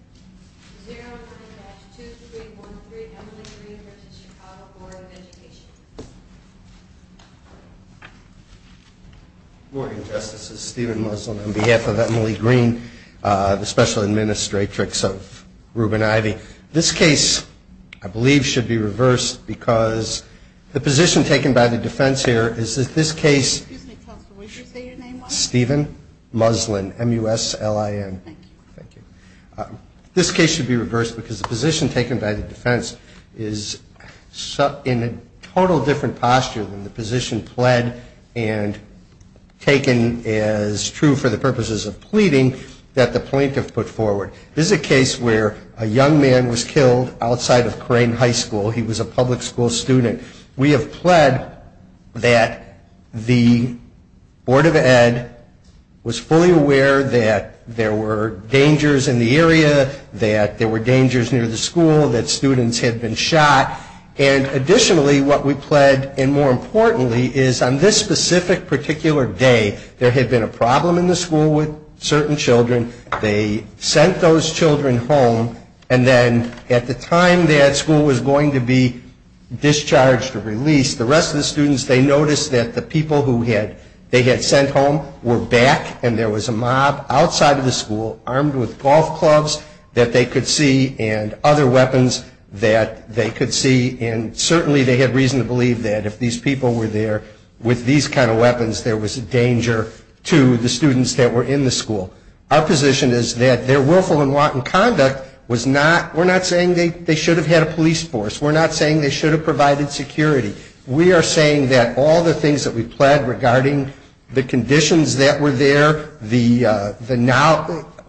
010-2313 Emily Green v. Chicago Board of Education Good morning, Justices. Stephen Muslin on behalf of Emily Green, the Special Administratrix of Rubin-Ivey. This case, I believe, should be reversed because the position taken by the defense here is that this case Excuse me, Counsel, would you say your name once? Stephen Muslin, M-U-S-L-I-N Thank you This case should be reversed because the position taken by the defense is in a total different posture than the position pled and taken as true for the purposes of pleading that the plaintiff put forward. This is a case where a young man was killed outside of Crane High School. He was a public school student. We have pled that the Board of Ed was fully aware that there were dangers in the area, that there were dangers near the school, that students had been shot. And additionally, what we pled, and more importantly, is on this specific particular day, there had been a problem in the school with certain children. They sent those children home, and then at the time that school was going to be discharged or released, the rest of the students, they noticed that the people who they had sent home were back, and there was a mob outside of the school armed with golf clubs that they could see and other weapons that they could see. And certainly they had reason to believe that if these people were there with these kind of weapons, there was a danger to the students that were in the school. Our position is that their willful and wanton conduct was not – we're not saying they should have had a police force. We're not saying they should have provided security. We are saying that all the things that we pled regarding the conditions that were there, the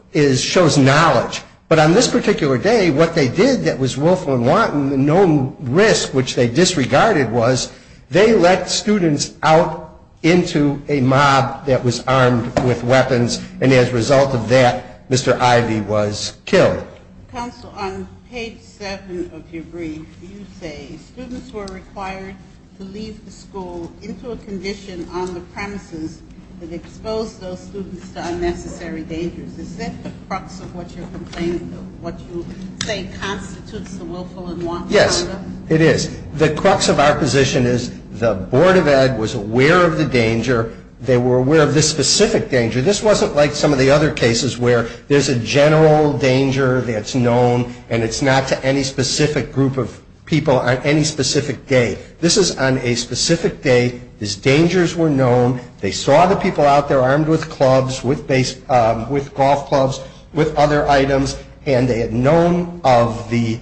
– shows knowledge. But on this particular day, what they did that was willful and wanton, known risk which they disregarded was they let students out into a mob that was armed with weapons, and as a result of that, Mr. Ivey was killed. Counsel, on page 7 of your brief, you say, students were required to leave the school into a condition on the premises that exposed those students to unnecessary dangers. Is that the crux of what you're complaining – what you say constitutes the willful and wanton conduct? Yes, it is. The crux of our position is the Board of Ed was aware of the danger. They were aware of this specific danger. This wasn't like some of the other cases where there's a general danger that's known and it's not to any specific group of people on any specific day. This is on a specific day. These dangers were known. They saw the people out there armed with clubs, with golf clubs, with other items, and they had known of the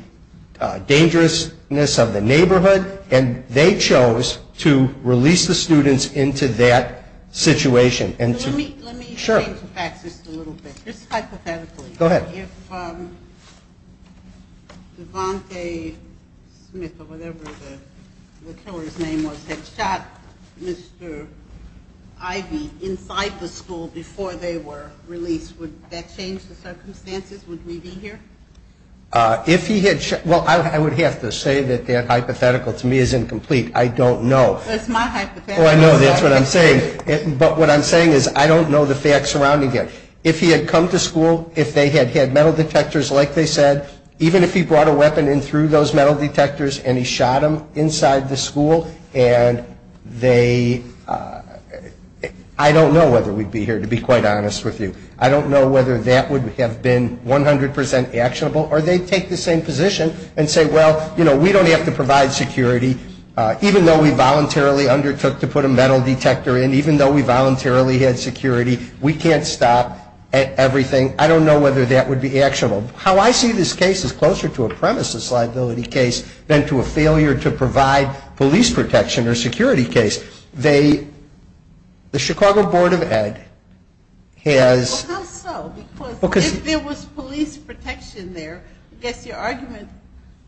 dangerousness of the neighborhood, and they chose to release the students into that situation. Let me change the facts just a little bit, just hypothetically. Go ahead. If Devante Smith or whatever the killer's name was had shot Mr. Ivey inside the school before they were released, would that change the circumstances? Would we be here? Well, I would have to say that that hypothetical to me is incomplete. I don't know. That's my hypothetical. Oh, I know. That's what I'm saying. But what I'm saying is I don't know the facts surrounding it. If he had come to school, if they had had metal detectors like they said, even if he brought a weapon in through those metal detectors and he shot them inside the school and they – I don't know whether we'd be here, to be quite honest with you. I don't know whether that would have been 100 percent actionable, or they'd take the same position and say, well, you know, we don't have to provide security. Even though we voluntarily undertook to put a metal detector in, even though we voluntarily had security, we can't stop everything. I don't know whether that would be actionable. How I see this case is closer to a premises liability case than to a failure to provide police protection or security case. They – the Chicago Board of Ed has – Well, how so? Because if there was police protection there, I guess your argument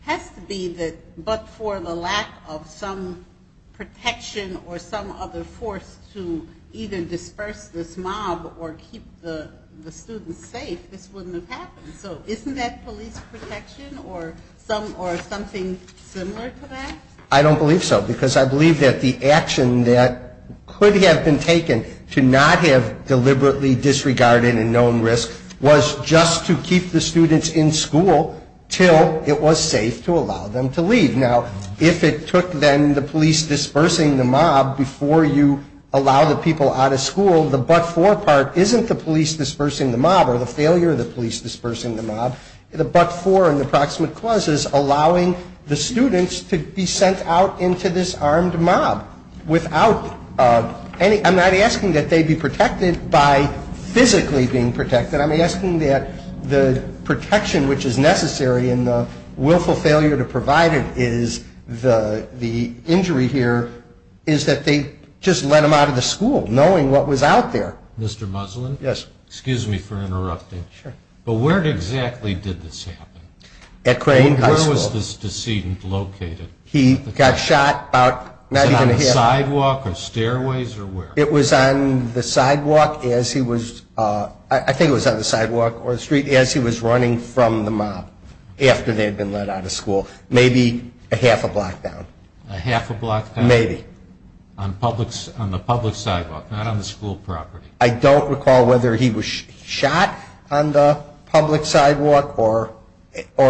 has to be that but for the lack of some protection or some other force to either disperse this mob or keep the students safe, this wouldn't have happened. So isn't that police protection or something similar to that? I don't believe so, because I believe that the action that could have been taken to not have deliberately disregarded a known risk was just to keep the students in school till it was safe to allow them to leave. Now, if it took, then, the police dispersing the mob before you allow the people out of school, the but-for part isn't the police dispersing the mob or the failure of the police dispersing the mob. The but-for in the proximate clause is allowing the students to be sent out into this armed mob without any – I'm not asking that they be protected by physically being protected. I'm asking that the protection which is necessary and the willful failure to provide it is the injury here is that they just let them out of the school knowing what was out there. Mr. Muslin? Yes. Excuse me for interrupting. Sure. But where exactly did this happen? At Crane High School. Where was this decedent located? He got shot about – Was it on the sidewalk or stairways or where? It was on the sidewalk as he was – I think it was on the sidewalk or the street as he was running from the mob after they had been let out of school. Maybe a half a block down. A half a block down? Maybe. On the public sidewalk, not on the school property? I don't recall whether he was shot on the public sidewalk or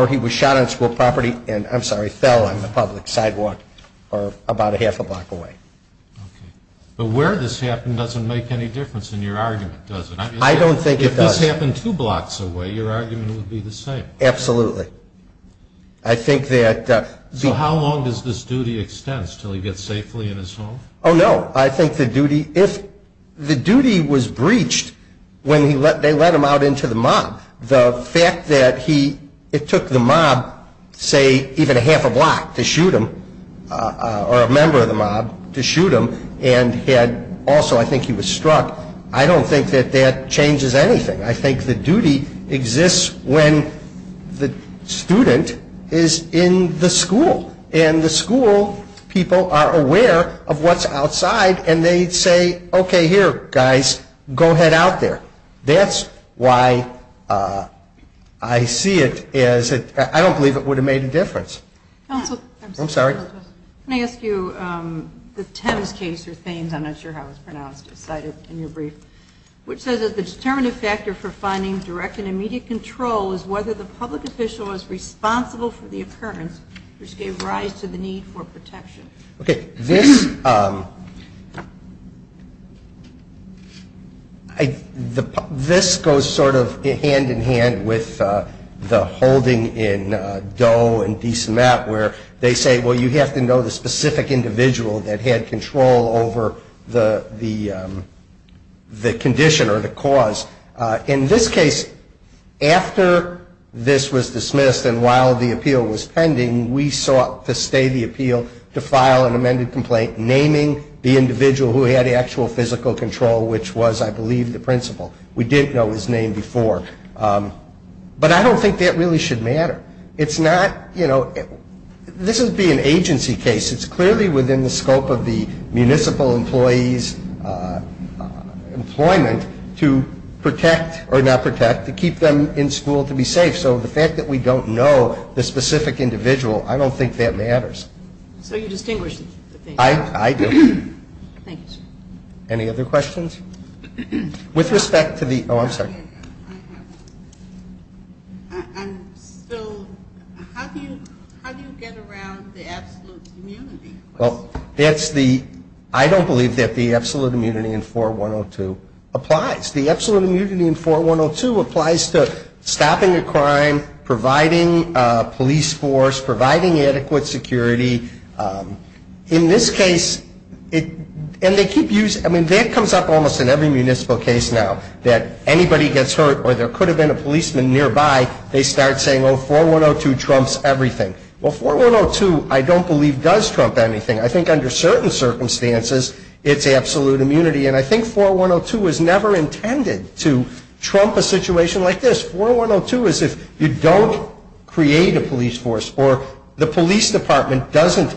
he was shot on school property and, I'm sorry, fell on the public sidewalk about a half a block away. Okay. But where this happened doesn't make any difference in your argument, does it? I don't think it does. If this happened two blocks away, your argument would be the same. Absolutely. I think that – So how long does this duty extend until he gets safely in his home? Oh, no. I think the duty – if the duty was breached when they let him out into the mob, the fact that he – it took the mob, say, even a half a block to shoot him or a member of the mob to shoot him and had – also, I think he was struck. I don't think that that changes anything. I think the duty exists when the student is in the school and the school people are aware of what's outside and they say, okay, here, guys, go head out there. That's why I see it as – I don't believe it would have made a difference. Counsel. I'm sorry. Can I ask you the Thames case, or Thames, I'm not sure how it's pronounced, cited in your brief, which says that the determinative factor for finding direct and immediate control is whether the public official is responsible for the occurrence which gave rise to the need for protection. Okay. This goes sort of hand-in-hand with the holding in Doe and DeSmet where they say, well, you have to know the specific individual that had control over the condition or the cause. In this case, after this was dismissed and while the appeal was pending, we sought to stay the appeal to file an amended complaint naming the individual who had actual physical control, which was, I believe, the principal. We didn't know his name before. But I don't think that really should matter. It's not – this would be an agency case. It's clearly within the scope of the municipal employee's employment to protect or not protect, to keep them in school to be safe. So the fact that we don't know the specific individual, I don't think that matters. So you distinguish the things. I do. Thank you, sir. Any other questions? With respect to the – oh, I'm sorry. So how do you get around the absolute immunity? Well, that's the – I don't believe that the absolute immunity in 4102 applies. The absolute immunity in 4102 applies to stopping a crime, providing a police force, providing adequate security. In this case – and they keep using – I mean, that comes up almost in every municipal case now, that anybody gets hurt or there could have been a policeman nearby, they start saying, oh, 4102 trumps everything. Well, 4102, I don't believe, does trump anything. I think under certain circumstances it's absolute immunity. And I think 4102 is never intended to trump a situation like this. 4102 is if you don't create a police force or the police department doesn't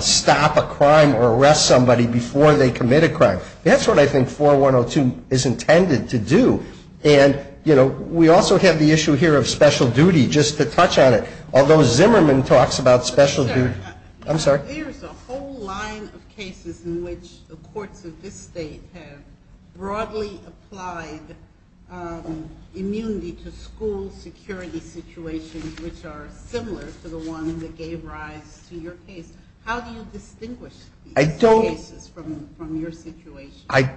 stop a crime or arrest somebody before they commit a crime. That's what I think 4102 is intended to do. And, you know, we also have the issue here of special duty, just to touch on it. Although Zimmerman talks about special duty – I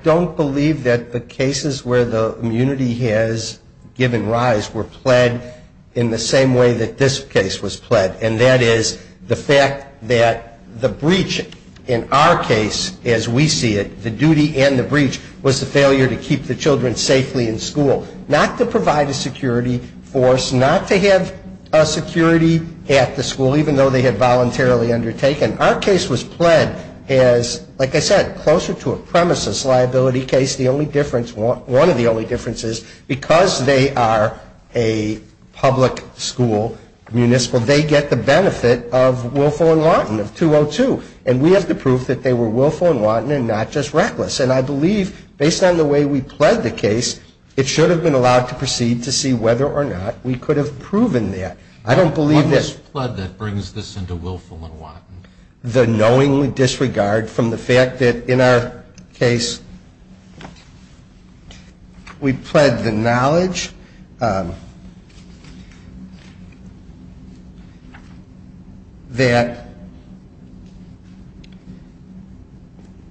don't believe that the cases where the immunity has given rise were pled in the same way that this case was pled, and that is the fact that the breach in our case, as we see it, was the failure to keep the children safely in school. Not to provide a security force, not to have a security at the school, even though they had voluntarily undertaken. Our case was pled as, like I said, closer to a premises liability case. The only difference – one of the only differences, because they are a public school, municipal, they get the benefit of Willful and Wanton, of 202. And we have the proof that they were Willful and Wanton and not just reckless. And I believe, based on the way we pled the case, it should have been allowed to proceed to see whether or not we could have proven that. I don't believe this – What was pled that brings this into Willful and Wanton? The knowingly disregard from the fact that, in our case, we pled the knowledge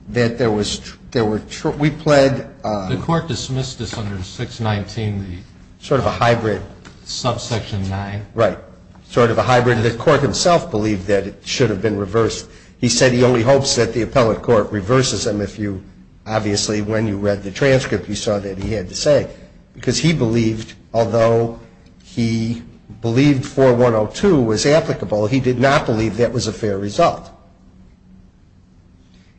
that there were – we pled – The court dismissed this under 619, the – Sort of a hybrid. Subsection 9. Right. Sort of a hybrid. The court himself believed that it should have been reversed. He said he only hopes that the appellate court reverses him if you – obviously, when you read the transcript, you saw that he had to say. Because he believed, although he believed 4102 was applicable, he did not believe that was a fair result.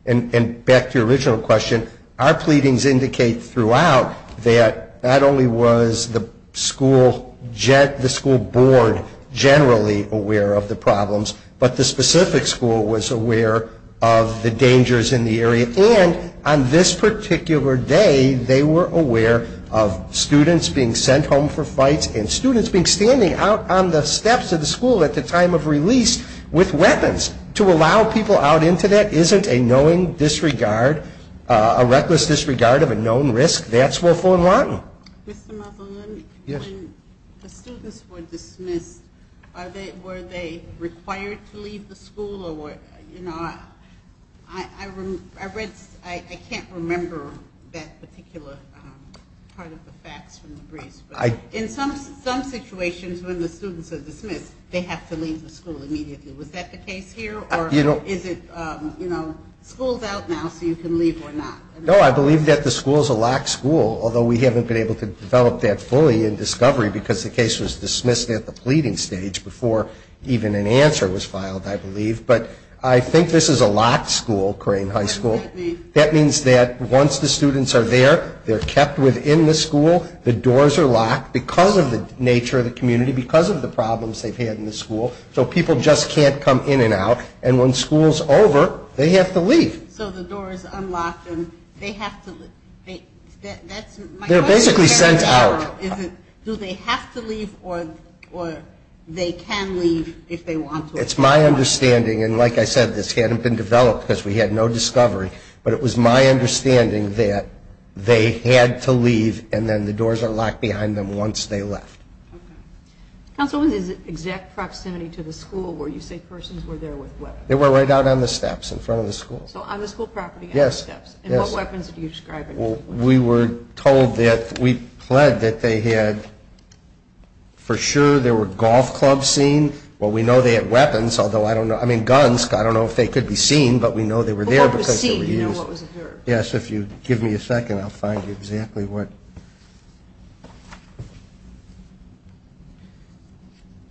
And back to your original question, our pleadings indicate throughout that not only was the school – the school board generally aware of the problems, but the specific school was aware of the dangers in the area. And on this particular day, they were aware of students being sent home for fights and students being standing out on the steps of the school at the time of release with weapons. To allow people out into that isn't a knowing disregard, a reckless disregard of a known risk. That's Willful and Wanton. Mr. Muzzolin. Yes. When the students were dismissed, were they required to leave the school? You know, I read – I can't remember that particular part of the facts from the briefs. But in some situations when the students are dismissed, they have to leave the school immediately. Was that the case here? Or is it, you know, school's out now, so you can leave or not? No, I believe that the school's a locked school, although we haven't been able to develop that fully in discovery because the case was dismissed at the pleading stage before even an answer was filed, I believe. But I think this is a locked school, Crane High School. That means that once the students are there, they're kept within the school. The doors are locked because of the nature of the community, because of the problems they've had in the school. So people just can't come in and out. And when school's over, they have to leave. So the door is unlocked and they have to – that's – They're basically sent out. So is it – do they have to leave or they can leave if they want to? It's my understanding, and like I said, this hadn't been developed because we had no discovery, but it was my understanding that they had to leave and then the doors are locked behind them once they left. Okay. Counsel, what is the exact proximity to the school where you say persons were there with weapons? They were right out on the steps in front of the school. So on the school property, on the steps. Yes, yes. And what weapons are you describing? We were told that – we pled that they had – for sure there were golf clubs seen. Well, we know they had weapons, although I don't know – I mean, guns. I don't know if they could be seen, but we know they were there because they were used. What was seen? Do you know what was observed? Yes, if you give me a second, I'll find you exactly what –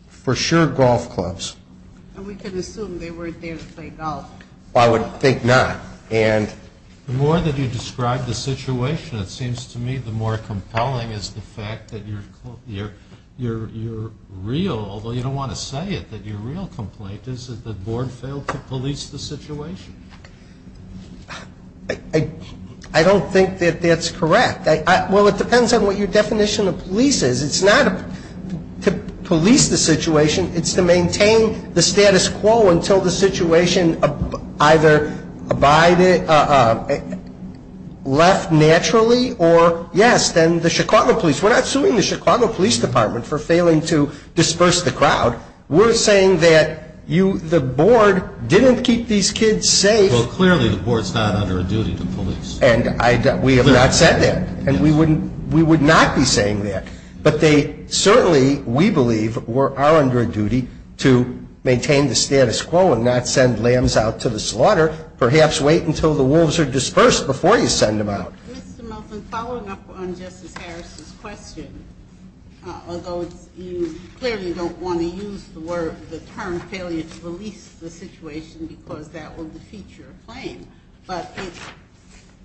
for sure golf clubs. And we can assume they weren't there to play golf. I would think not. The more that you describe the situation, it seems to me the more compelling is the fact that you're real, although you don't want to say it, that your real complaint is that the board failed to police the situation. I don't think that that's correct. Well, it depends on what your definition of police is. It's not to police the situation. It's to maintain the status quo until the situation either abided – left naturally or, yes, then the Chicago police – we're not suing the Chicago Police Department for failing to disperse the crowd. We're saying that you – the board didn't keep these kids safe. Well, clearly the board's not under a duty to police. And I – we have not said that. And we wouldn't – we would not be saying that. But they certainly, we believe, are under a duty to maintain the status quo and not send lambs out to the slaughter. Perhaps wait until the wolves are dispersed before you send them out. Mr. Milton, following up on Justice Harris's question, although you clearly don't want to use the word – the term failure to police the situation because that would defeat your claim. But it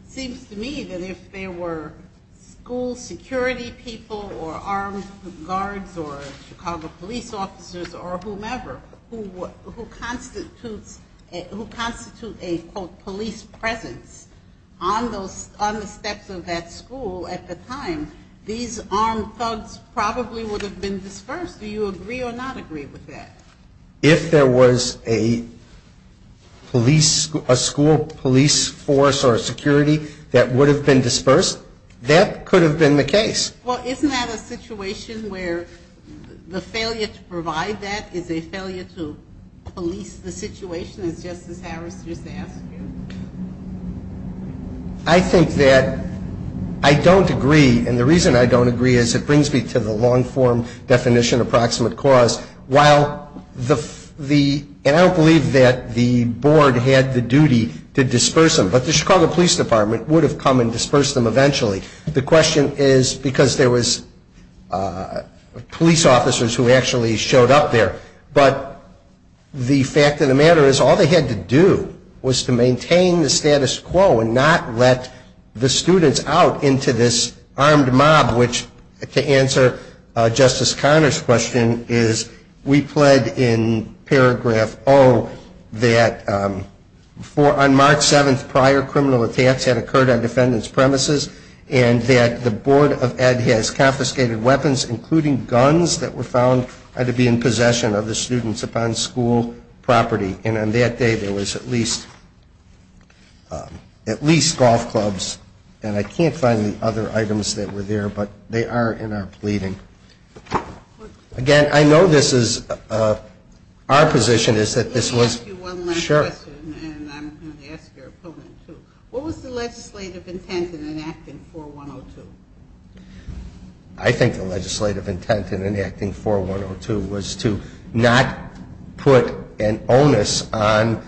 seems to me that if there were school security people or armed guards or Chicago police officers or whomever who constitutes a, quote, police presence on those – on the steps of that school at the time, these armed thugs probably would have been dispersed. Do you agree or not agree with that? If there was a police – a school police force or a security that would have been dispersed, that could have been the case. Well, isn't that a situation where the failure to provide that is a failure to police the situation, as Justice Harris just asked you? I think that I don't agree. And the reason I don't agree is it brings me to the long-form definition of proximate cause. While the – and I don't believe that the board had the duty to disperse them, but the Chicago Police Department would have come and dispersed them eventually. The question is because there was police officers who actually showed up there. But the fact of the matter is all they had to do was to maintain the status quo and not let the students out into this armed mob, which, to answer Justice Conner's question, is we pled in paragraph O that on March 7th prior criminal attacks had occurred on defendants' premises and that the Board of Ed has confiscated weapons, including guns, that were found to be in possession of the students upon school property. And on that day there was at least – at least golf clubs. And I can't find the other items that were there, but they are in our pleading. Again, I know this is – our position is that this was – Let me ask you one last question, and I'm going to ask your opponent, too. What was the legislative intent in enacting 4102? I think the legislative intent in enacting 4102 was to not put an onus on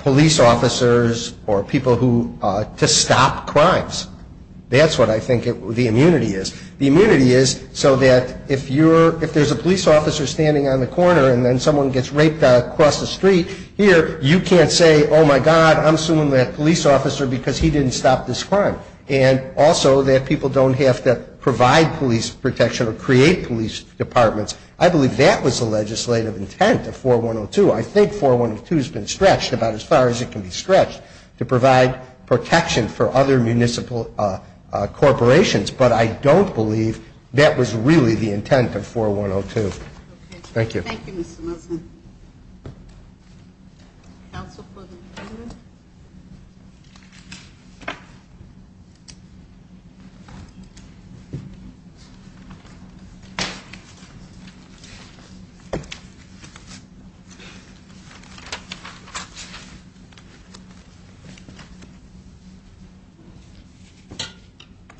police officers or people who – to stop crimes. That's what I think the immunity is. The immunity is so that if you're – if there's a police officer standing on the corner and then someone gets raped across the street here, you can't say, oh, my God, I'm suing that police officer because he didn't stop this crime. And also that people don't have to provide police protection or create police departments. I believe that was the legislative intent of 4102. I think 4102 has been stretched about as far as it can be stretched to provide protection for other municipal corporations. But I don't believe that was really the intent of 4102. Thank you. Thank you, Mr. Nelson. Counsel for the defendant.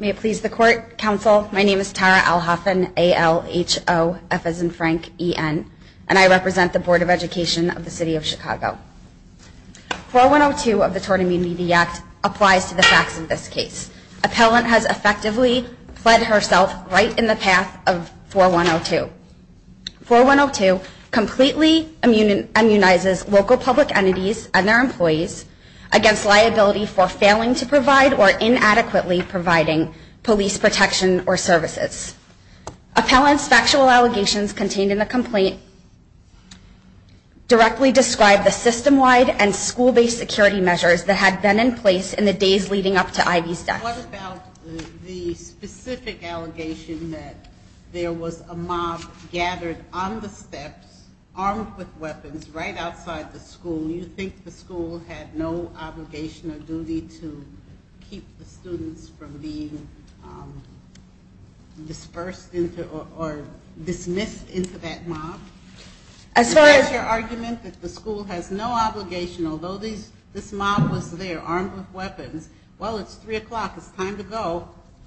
May it please the court, counsel, my name is Tara Alhaffan, A-L-H-O-F as in Frank, E-N, and I represent the Board of Education of the City of Chicago. 4102 of the Tort Immunity Act applies to the facts of this case. Appellant has effectively fled herself right in the path of 4102. 4102 completely immunizes local public entities and their employees against liability for failing to provide or inadequately providing police protection or services. Appellant's factual allegations contained in the complaint directly describe the system-wide and school-based security measures that had been in place in the days leading up to Ivy's death. What about the specific allegation that there was a mob gathered on the steps, armed with weapons, right outside the school? You think the school had no obligation or duty to keep the students from being dispersed into or dismissed into that mob? As far as your argument that the school has no obligation, although this mob was there armed with weapons, well, it's 3 o'clock, it's time to go,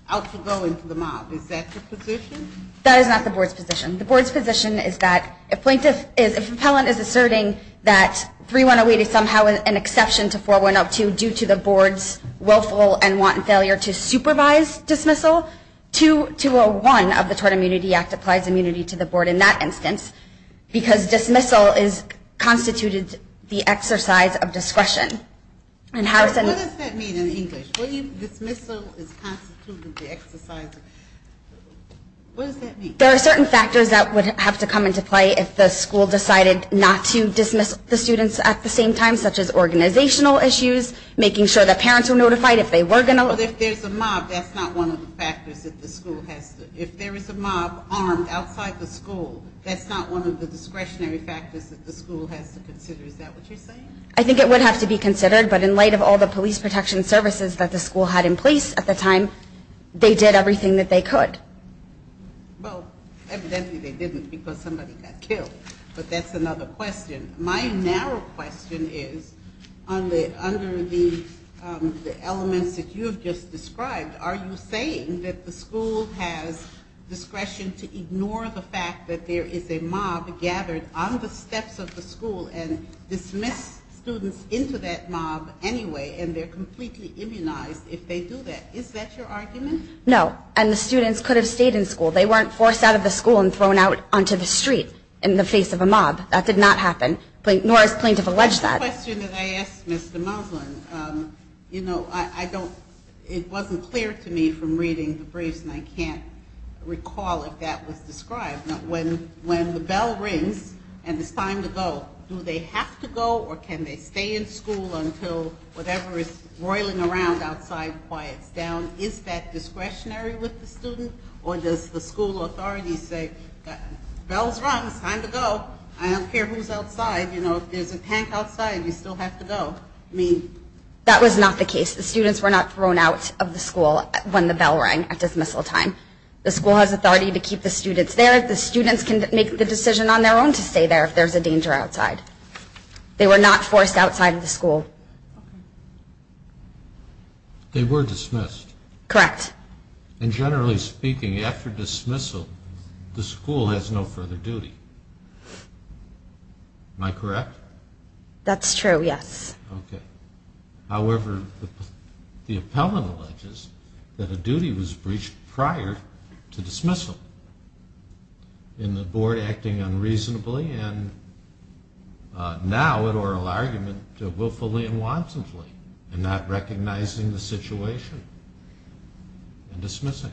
out to go into the mob. Is that the position? That is not the board's position. The board's position is that if Appellant is asserting that 3108 is somehow an exception to 4102 due to the board's willful and wanton failure to supervise dismissal, 201 of the Tort Immunity Act applies immunity to the board in that instance because dismissal is constituted the exercise of discretion. What does that mean in English? Dismissal is constituted the exercise of discretion. What does that mean? There are certain factors that would have to come into play if the school decided not to dismiss the students at the same time, such as organizational issues, making sure that parents were notified if they were going to. But if there's a mob, that's not one of the factors that the school has to. If there is a mob armed outside the school, that's not one of the discretionary factors that the school has to consider. Is that what you're saying? I think it would have to be considered, but in light of all the police protection services that the school had in place at the time, they did everything that they could. Well, evidently they didn't because somebody got killed, but that's another question. My narrow question is, under the elements that you have just described, are you saying that the school has discretion to ignore the fact that there is a mob gathered on the steps of the school and dismiss students into that mob anyway, and they're completely immunized if they do that? Is that your argument? No, and the students could have stayed in school. They weren't forced out of the school and thrown out onto the street in the face of a mob. That did not happen, nor has plaintiff alleged that. The question that I asked Mr. Moslin, you know, it wasn't clear to me from reading the briefs, and I can't recall if that was described. When the bell rings and it's time to go, do they have to go, or can they stay in school until whatever is roiling around outside quiets down? Is that discretionary with the student, or does the school authority say, bell's rung, it's time to go, I don't care who's outside. You know, if there's a tank outside, you still have to go. That was not the case. The students were not thrown out of the school when the bell rang at dismissal time. The school has authority to keep the students there. The students can make the decision on their own to stay there if there's a danger outside. They were not forced outside of the school. They were dismissed. Correct. And generally speaking, after dismissal, the school has no further duty. Am I correct? That's true, yes. Okay. However, the appellant alleges that a duty was breached prior to dismissal in the board acting unreasonably, and now in oral argument, willfully and wantonly, and not recognizing the situation and dismissing.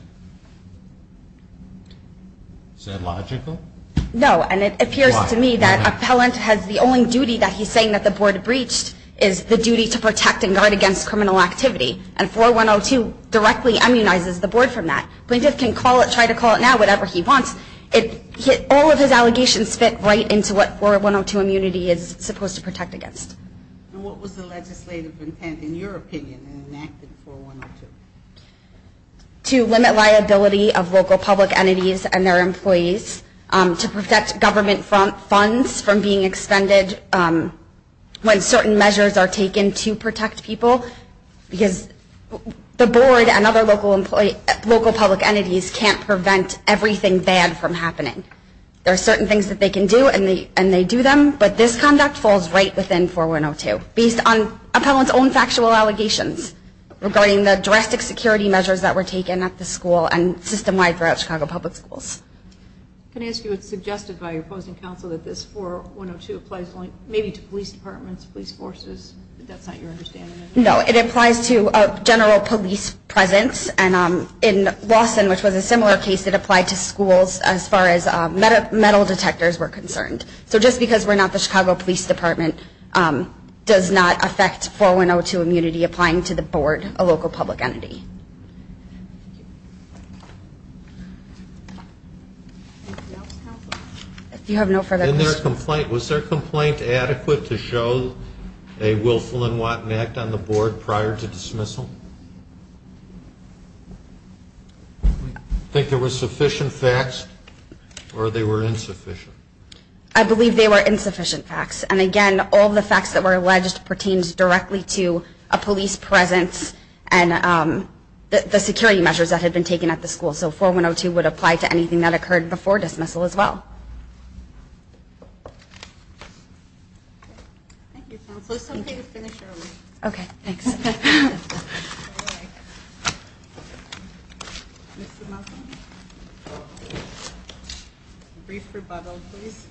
Is that logical? No, and it appears to me that appellant has the only duty that he's saying that the board breached is the duty to protect and guard against criminal activity, and 4102 directly immunizes the board from that. Plaintiff can call it, try to call it now, whatever he wants. All of his allegations fit right into what 4102 immunity is supposed to protect against. And what was the legislative intent, in your opinion, in enacting 4102? To limit liability of local public entities and their employees, to protect government funds from being expended when certain measures are taken to protect people, because the board and other local public entities can't prevent everything bad from happening. There are certain things that they can do, and they do them, but this conduct falls right within 4102, based on appellant's own factual allegations regarding the drastic security measures that were taken at the school and system-wide throughout Chicago Public Schools. Can I ask you what's suggested by your opposing counsel, that this 4102 applies only maybe to police departments, police forces? No, it applies to general police presence, and in Lawson, which was a similar case, it applied to schools as far as metal detectors were concerned. So just because we're not the Chicago Police Department, does not affect 4102 immunity applying to the board, a local public entity. Do you have no further questions? Was their complaint adequate to show a willful and wanton act on the board prior to dismissal? Do you think there were sufficient facts, or they were insufficient? I believe they were insufficient facts. And again, all the facts that were alleged pertains directly to a police presence and the security measures that had been taken at the school. So 4102 would apply to anything that occurred before dismissal as well. Thank you, counsel. There's something to finish early. Okay, thanks. Brief rebuttal, please.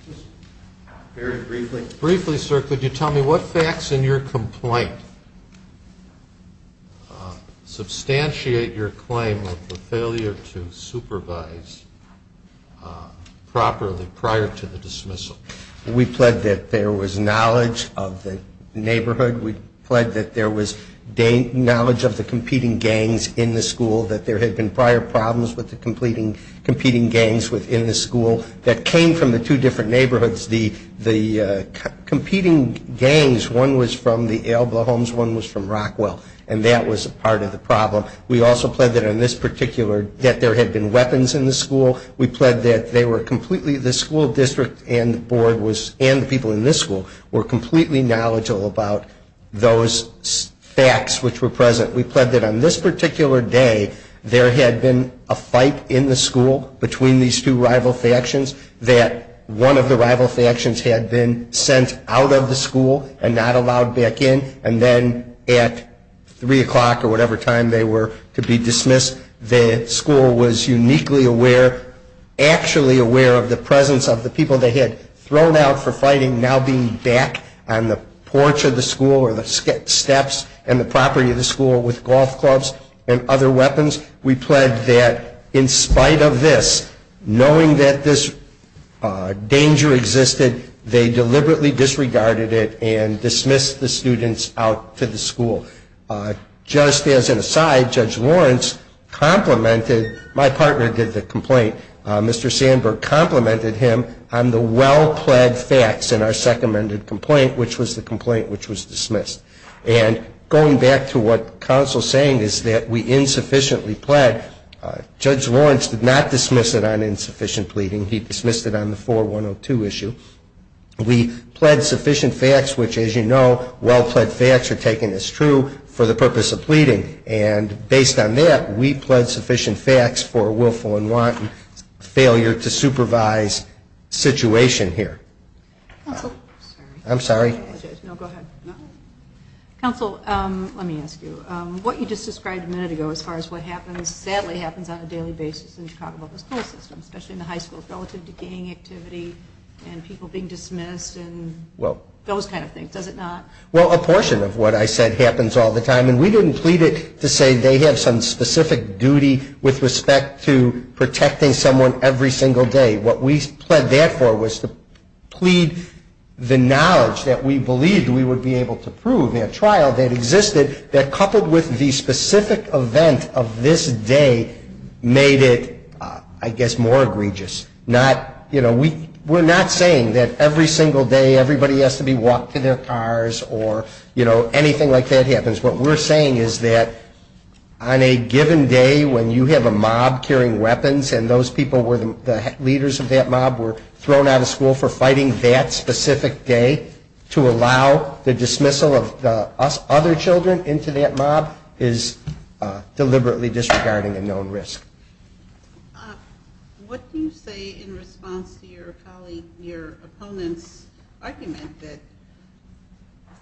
Very briefly. Briefly, sir, could you tell me what facts in your complaint substantiate your claim of the failure to supervise properly prior to the dismissal? We pled that there was knowledge of the neighborhood. We pled that there was knowledge of the competing gangs in the school, that there had been prior problems with the competing gangs within the school that came from the two different neighborhoods. The competing gangs, one was from the Alba homes, one was from Rockwell, and that was part of the problem. We also pled that on this particular, that there had been weapons in the school. We pled that they were completely, the school district and the board was, and the people in this school were completely knowledgeable about those facts which were present. We pled that on this particular day, there had been a fight in the school between these two rival factions, that one of the rival factions had been sent out of the school and not allowed back in, and then at 3 o'clock or whatever time they were to be dismissed, the school was uniquely aware, actually aware of the presence of the people they had thrown out for fighting now being back on the porch of the school or the steps and the property of the school with golf clubs and other weapons. We pled that in spite of this, knowing that this danger existed, they deliberately disregarded it and dismissed the students out to the school. Just as an aside, Judge Lawrence complimented, my partner did the complaint, Mr. Sandberg complimented him on the well-pled facts in our second amended complaint, which was the complaint which was dismissed. And going back to what counsel is saying is that we insufficiently pled, Judge Lawrence did not dismiss it on insufficient pleading. He dismissed it on the 4102 issue. We pled sufficient facts, which as you know, well-pled facts are taken as true for the purpose of pleading. And based on that, we pled sufficient facts for willful and wanton failure to supervise situation here. I'm sorry. No, go ahead. Counsel, let me ask you, what you just described a minute ago as far as what happens, sadly happens on a daily basis in Chicago public school system, especially in the high schools relative to gang activity and people being dismissed and those kind of things. Does it not? Well, a portion of what I said happens all the time. And we didn't plead it to say they have some specific duty with respect to protecting someone every single day. What we pled that for was to plead the knowledge that we believed we would be able to prove in a trial that existed that coupled with the specific event of this day made it, I guess, more egregious. Not, you know, we're not saying that every single day everybody has to be walked to their cars or, you know, anything like that happens. What we're saying is that on a given day when you have a mob carrying weapons and those people were the leaders of that mob were thrown out of school for fighting that specific day, to allow the dismissal of the other children into that mob is deliberately disregarding a known risk. What do you say in response to your colleague, your opponent's argument that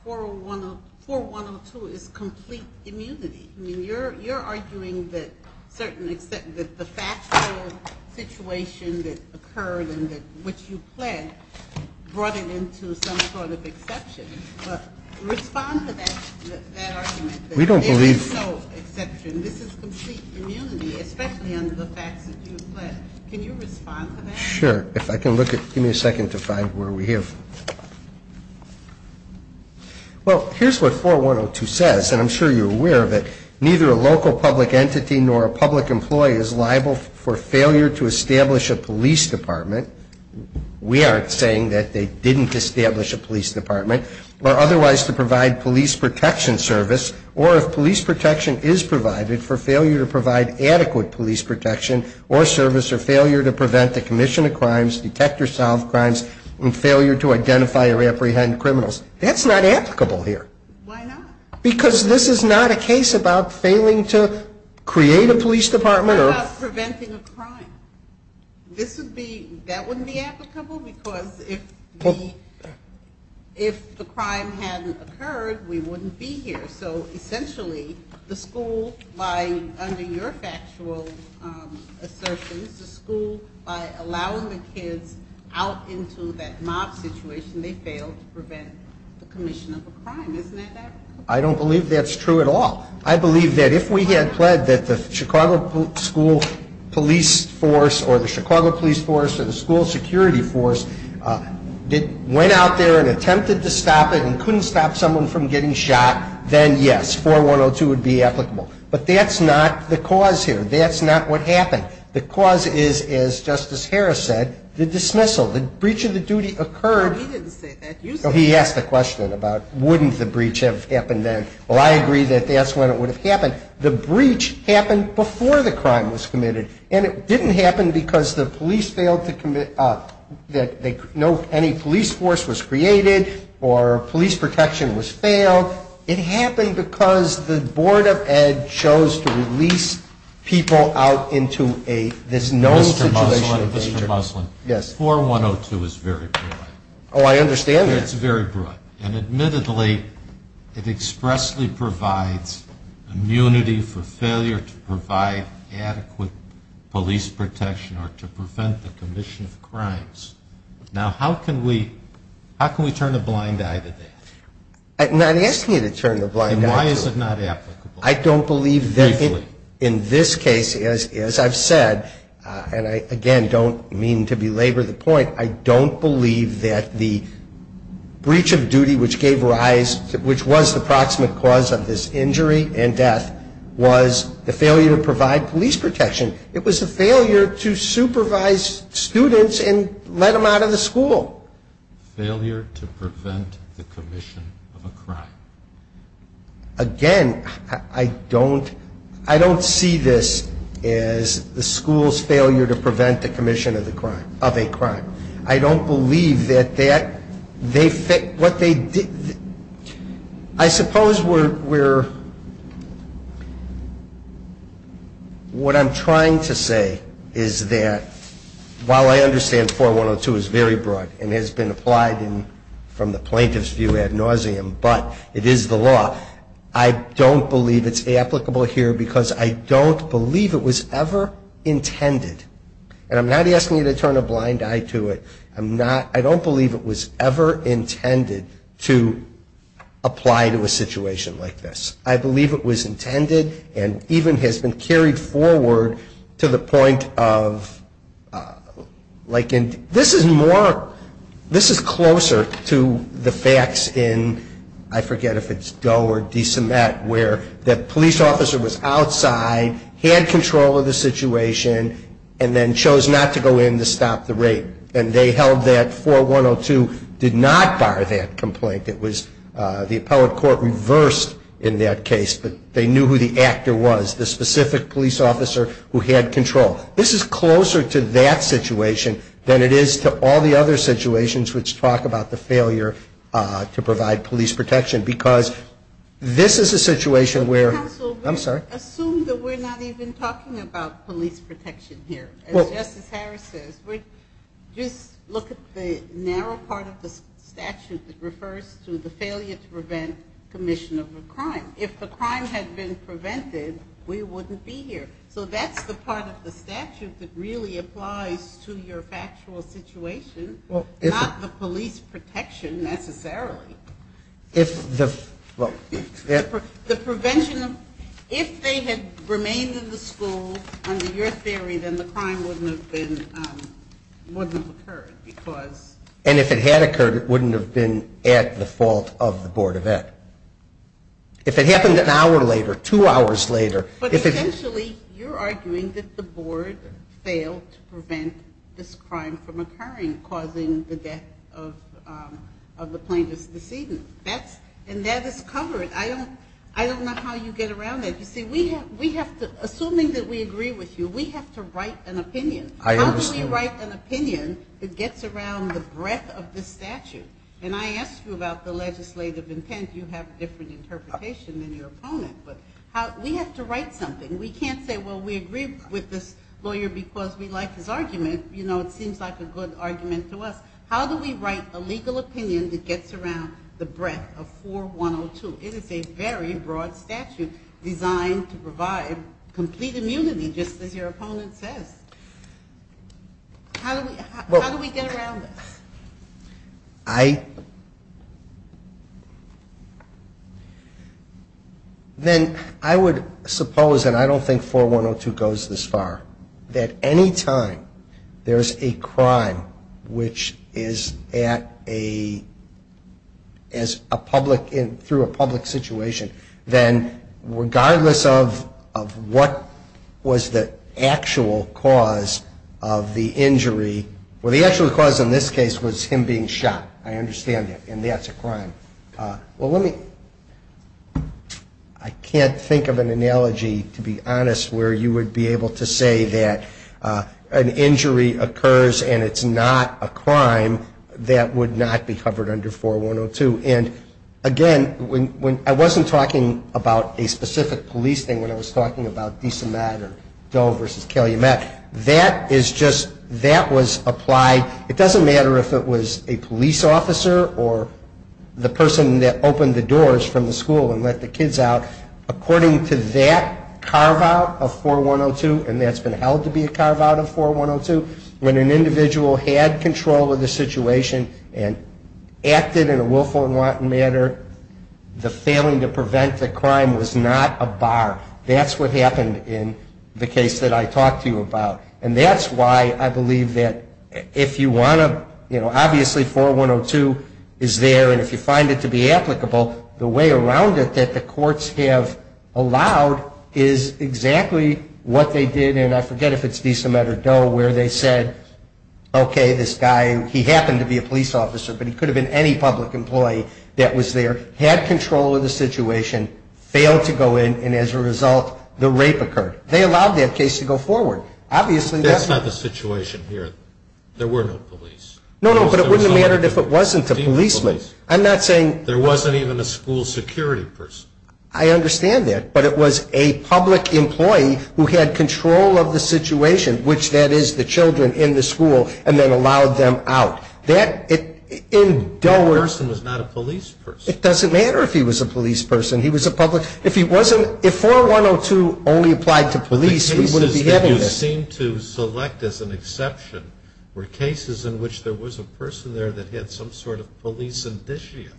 4102 is complete immunity? I mean, you're arguing that the factual situation that occurred and which you pled brought it into some sort of exception. But respond to that argument that there is no exception. This is complete immunity, especially under the facts that you pled. Can you respond to that? Sure. If I can look at it, give me a second to find where we are. Well, here's what 4102 says, and I'm sure you're aware of it. Neither a local public entity nor a public employee is liable for failure to establish a police department. We aren't saying that they didn't establish a police department, or otherwise to provide police protection service, or if police protection is provided for failure to provide adequate police protection or service or failure to prevent the commission of crimes, detect or solve crimes, and failure to identify or apprehend criminals. That's not applicable here. Why not? Because this is not a case about failing to create a police department. What about preventing a crime? That wouldn't be applicable because if the crime hadn't occurred, we wouldn't be here. So essentially, the school, under your factual assertions, the school, by allowing the kids out into that mob situation, they failed to prevent the commission of a crime. Isn't that right? I don't believe that's true at all. I believe that if we had pled that the Chicago school police force or the Chicago police force or the school security force went out there and attempted to stop it and couldn't stop someone from getting shot, then, yes, 4102 would be applicable. But that's not the cause here. That's not what happened. The cause is, as Justice Harris said, the dismissal. The breach of the duty occurred. He didn't say that. You said that. He asked the question about wouldn't the breach have happened then. Well, I agree that that's when it would have happened. The breach happened before the crime was committed, and it didn't happen because the police failed to commit, that any police force was created or police protection was failed. It happened because the Board of Ed chose to release people out into a, this known situation of danger. Mr. Muslin. Yes. 4102 is very broad. Oh, I understand that. It's very broad. And admittedly, it expressly provides immunity for failure to provide adequate police protection or to prevent the commission of crimes. Now, how can we turn a blind eye to that? I'm not asking you to turn a blind eye to it. And why is it not applicable? I don't believe that in this case, as I've said, and I, again, don't mean to belabor the point, I don't believe that the breach of duty which gave rise, which was the proximate cause of this injury and death, was the failure to provide police protection. It was a failure to supervise students and let them out of the school. Failure to prevent the commission of a crime. Again, I don't see this as the school's failure to prevent the commission of a crime. I don't believe that that, what they did, I suppose we're, what I'm trying to say is that while I understand 4102 is very broad and has been applied from the plaintiff's view ad nauseum, but it is the law, I don't believe it's applicable here because I don't believe it was ever intended. And I'm not asking you to turn a blind eye to it. I'm not, I don't believe it was ever intended to apply to a situation like this. I believe it was intended and even has been carried forward to the point of, like this is more, this is closer to the facts in, I forget if it's Doe or DeCimet, where that police officer was outside, had control of the situation, and then chose not to go in to stop the rape. And they held that 4102 did not bar that complaint. It was the appellate court reversed in that case, but they knew who the actor was, the specific police officer who had control. This is closer to that situation than it is to all the other situations which talk about the failure to provide police protection because this is a situation where, I'm sorry. Counsel, assume that we're not even talking about police protection here. As Justice Harris says, just look at the narrow part of the statute that refers to the failure to prevent commission of a crime. If the crime had been prevented, we wouldn't be here. So that's the part of the statute that really applies to your factual situation, not the police protection necessarily. The prevention of, if they had remained in the school, under your theory, then the crime wouldn't have occurred because. And if it had occurred, it wouldn't have been at the fault of the Board of Ed. If it happened an hour later, two hours later. But essentially, you're arguing that the Board failed to prevent this crime from occurring, causing the death of the plaintiff's decedent. And that is covered. I don't know how you get around that. You see, assuming that we agree with you, we have to write an opinion. I understand. How do we write an opinion that gets around the breadth of this statute? And I asked you about the legislative intent. You have a different interpretation than your opponent. But we have to write something. We can't say, well, we agree with this lawyer because we like his argument. You know, it seems like a good argument to us. How do we write a legal opinion that gets around the breadth of 4102? It is a very broad statute designed to provide complete immunity, just as your opponent says. How do we get around this? Then I would suppose, and I don't think 4102 goes this far, that any time there is a crime which is at a public, through a public situation, then regardless of what was the actual cause of the injury, well, the actual cause in this case was him being shot. I understand that. And that's a crime. Well, let me, I can't think of an analogy, to be honest, where you would be able to say that an injury occurs and it's not a crime that would not be covered under 4102. And, again, I wasn't talking about a specific police thing when I was talking about DeSomet or Doe v. Calumet. That is just, that was applied. It doesn't matter if it was a police officer or the person that opened the doors from the school and let the kids out. According to that carve-out of 4102, and that's been held to be a carve-out of 4102, when an individual had control of the situation and acted in a willful and wanton manner, the failing to prevent the crime was not a bar. That's what happened in the case that I talked to you about. And that's why I believe that if you want to, you know, obviously 4102 is there and if you find it to be applicable, the way around it that the courts have allowed is exactly what they did, and I forget if it's DeSomet or Doe, where they said, okay, this guy, he happened to be a police officer, but he could have been any public employee that was there, had control of the situation, failed to go in, and as a result, the rape occurred. They allowed that case to go forward. Obviously that's not... That's not the situation here. There were no police. No, no, but it wouldn't have mattered if it wasn't a policeman. I'm not saying... There wasn't even a school security person. I understand that, but it was a public employee who had control of the situation, which that is the children in the school, and then allowed them out. That, in Doe... That person was not a police person. It doesn't matter if he was a police person. He was a public... If he wasn't... If 4102 only applied to police, we wouldn't be having this. But the cases that you seem to select as an exception were cases in which there was a person there that had some sort of police indicia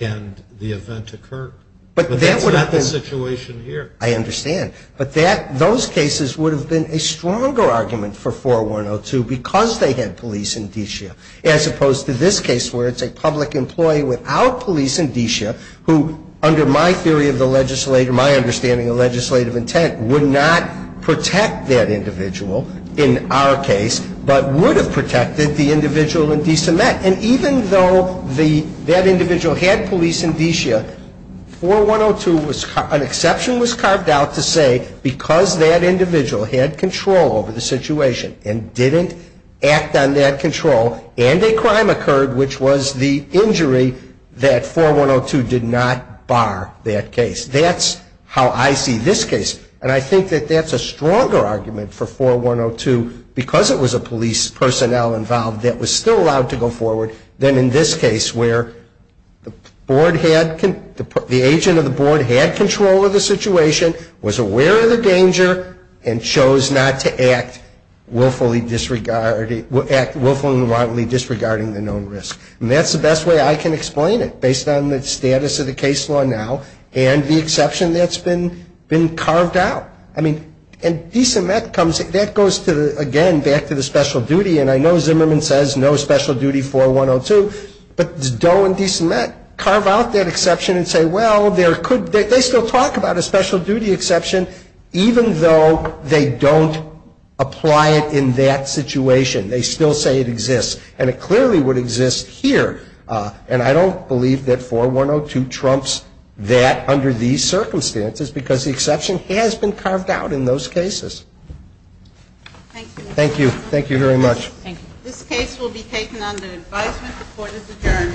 and the event occurred. But that would have been... But that's not the situation here. I understand, but those cases would have been a stronger argument for 4102 because they had police indicia, as opposed to this case where it's a public employee without police indicia who, under my theory of the legislator, my understanding of legislative intent, would not protect that individual in our case, but would have protected the individual in Decemet. And even though that individual had police indicia, 4102 was... An exception was carved out to say because that individual had control over the situation, he did act on that control, and a crime occurred, which was the injury, that 4102 did not bar that case. That's how I see this case. And I think that that's a stronger argument for 4102 because it was a police personnel involved that was still allowed to go forward than in this case where the board had... The agent of the board had control of the situation, was aware of the danger, and chose not to act willfully and wrongly disregarding the known risk. And that's the best way I can explain it, based on the status of the case law now and the exception that's been carved out. I mean, and Decemet comes... That goes, again, back to the special duty. And I know Zimmerman says no special duty 4102, but Doe and Decemet carve out that exception and say, well, there could... Even though they don't apply it in that situation. They still say it exists, and it clearly would exist here. And I don't believe that 4102 trumps that under these circumstances because the exception has been carved out in those cases. Thank you. Thank you. Thank you very much. Thank you. This case will be taken under advisement. The court is adjourned.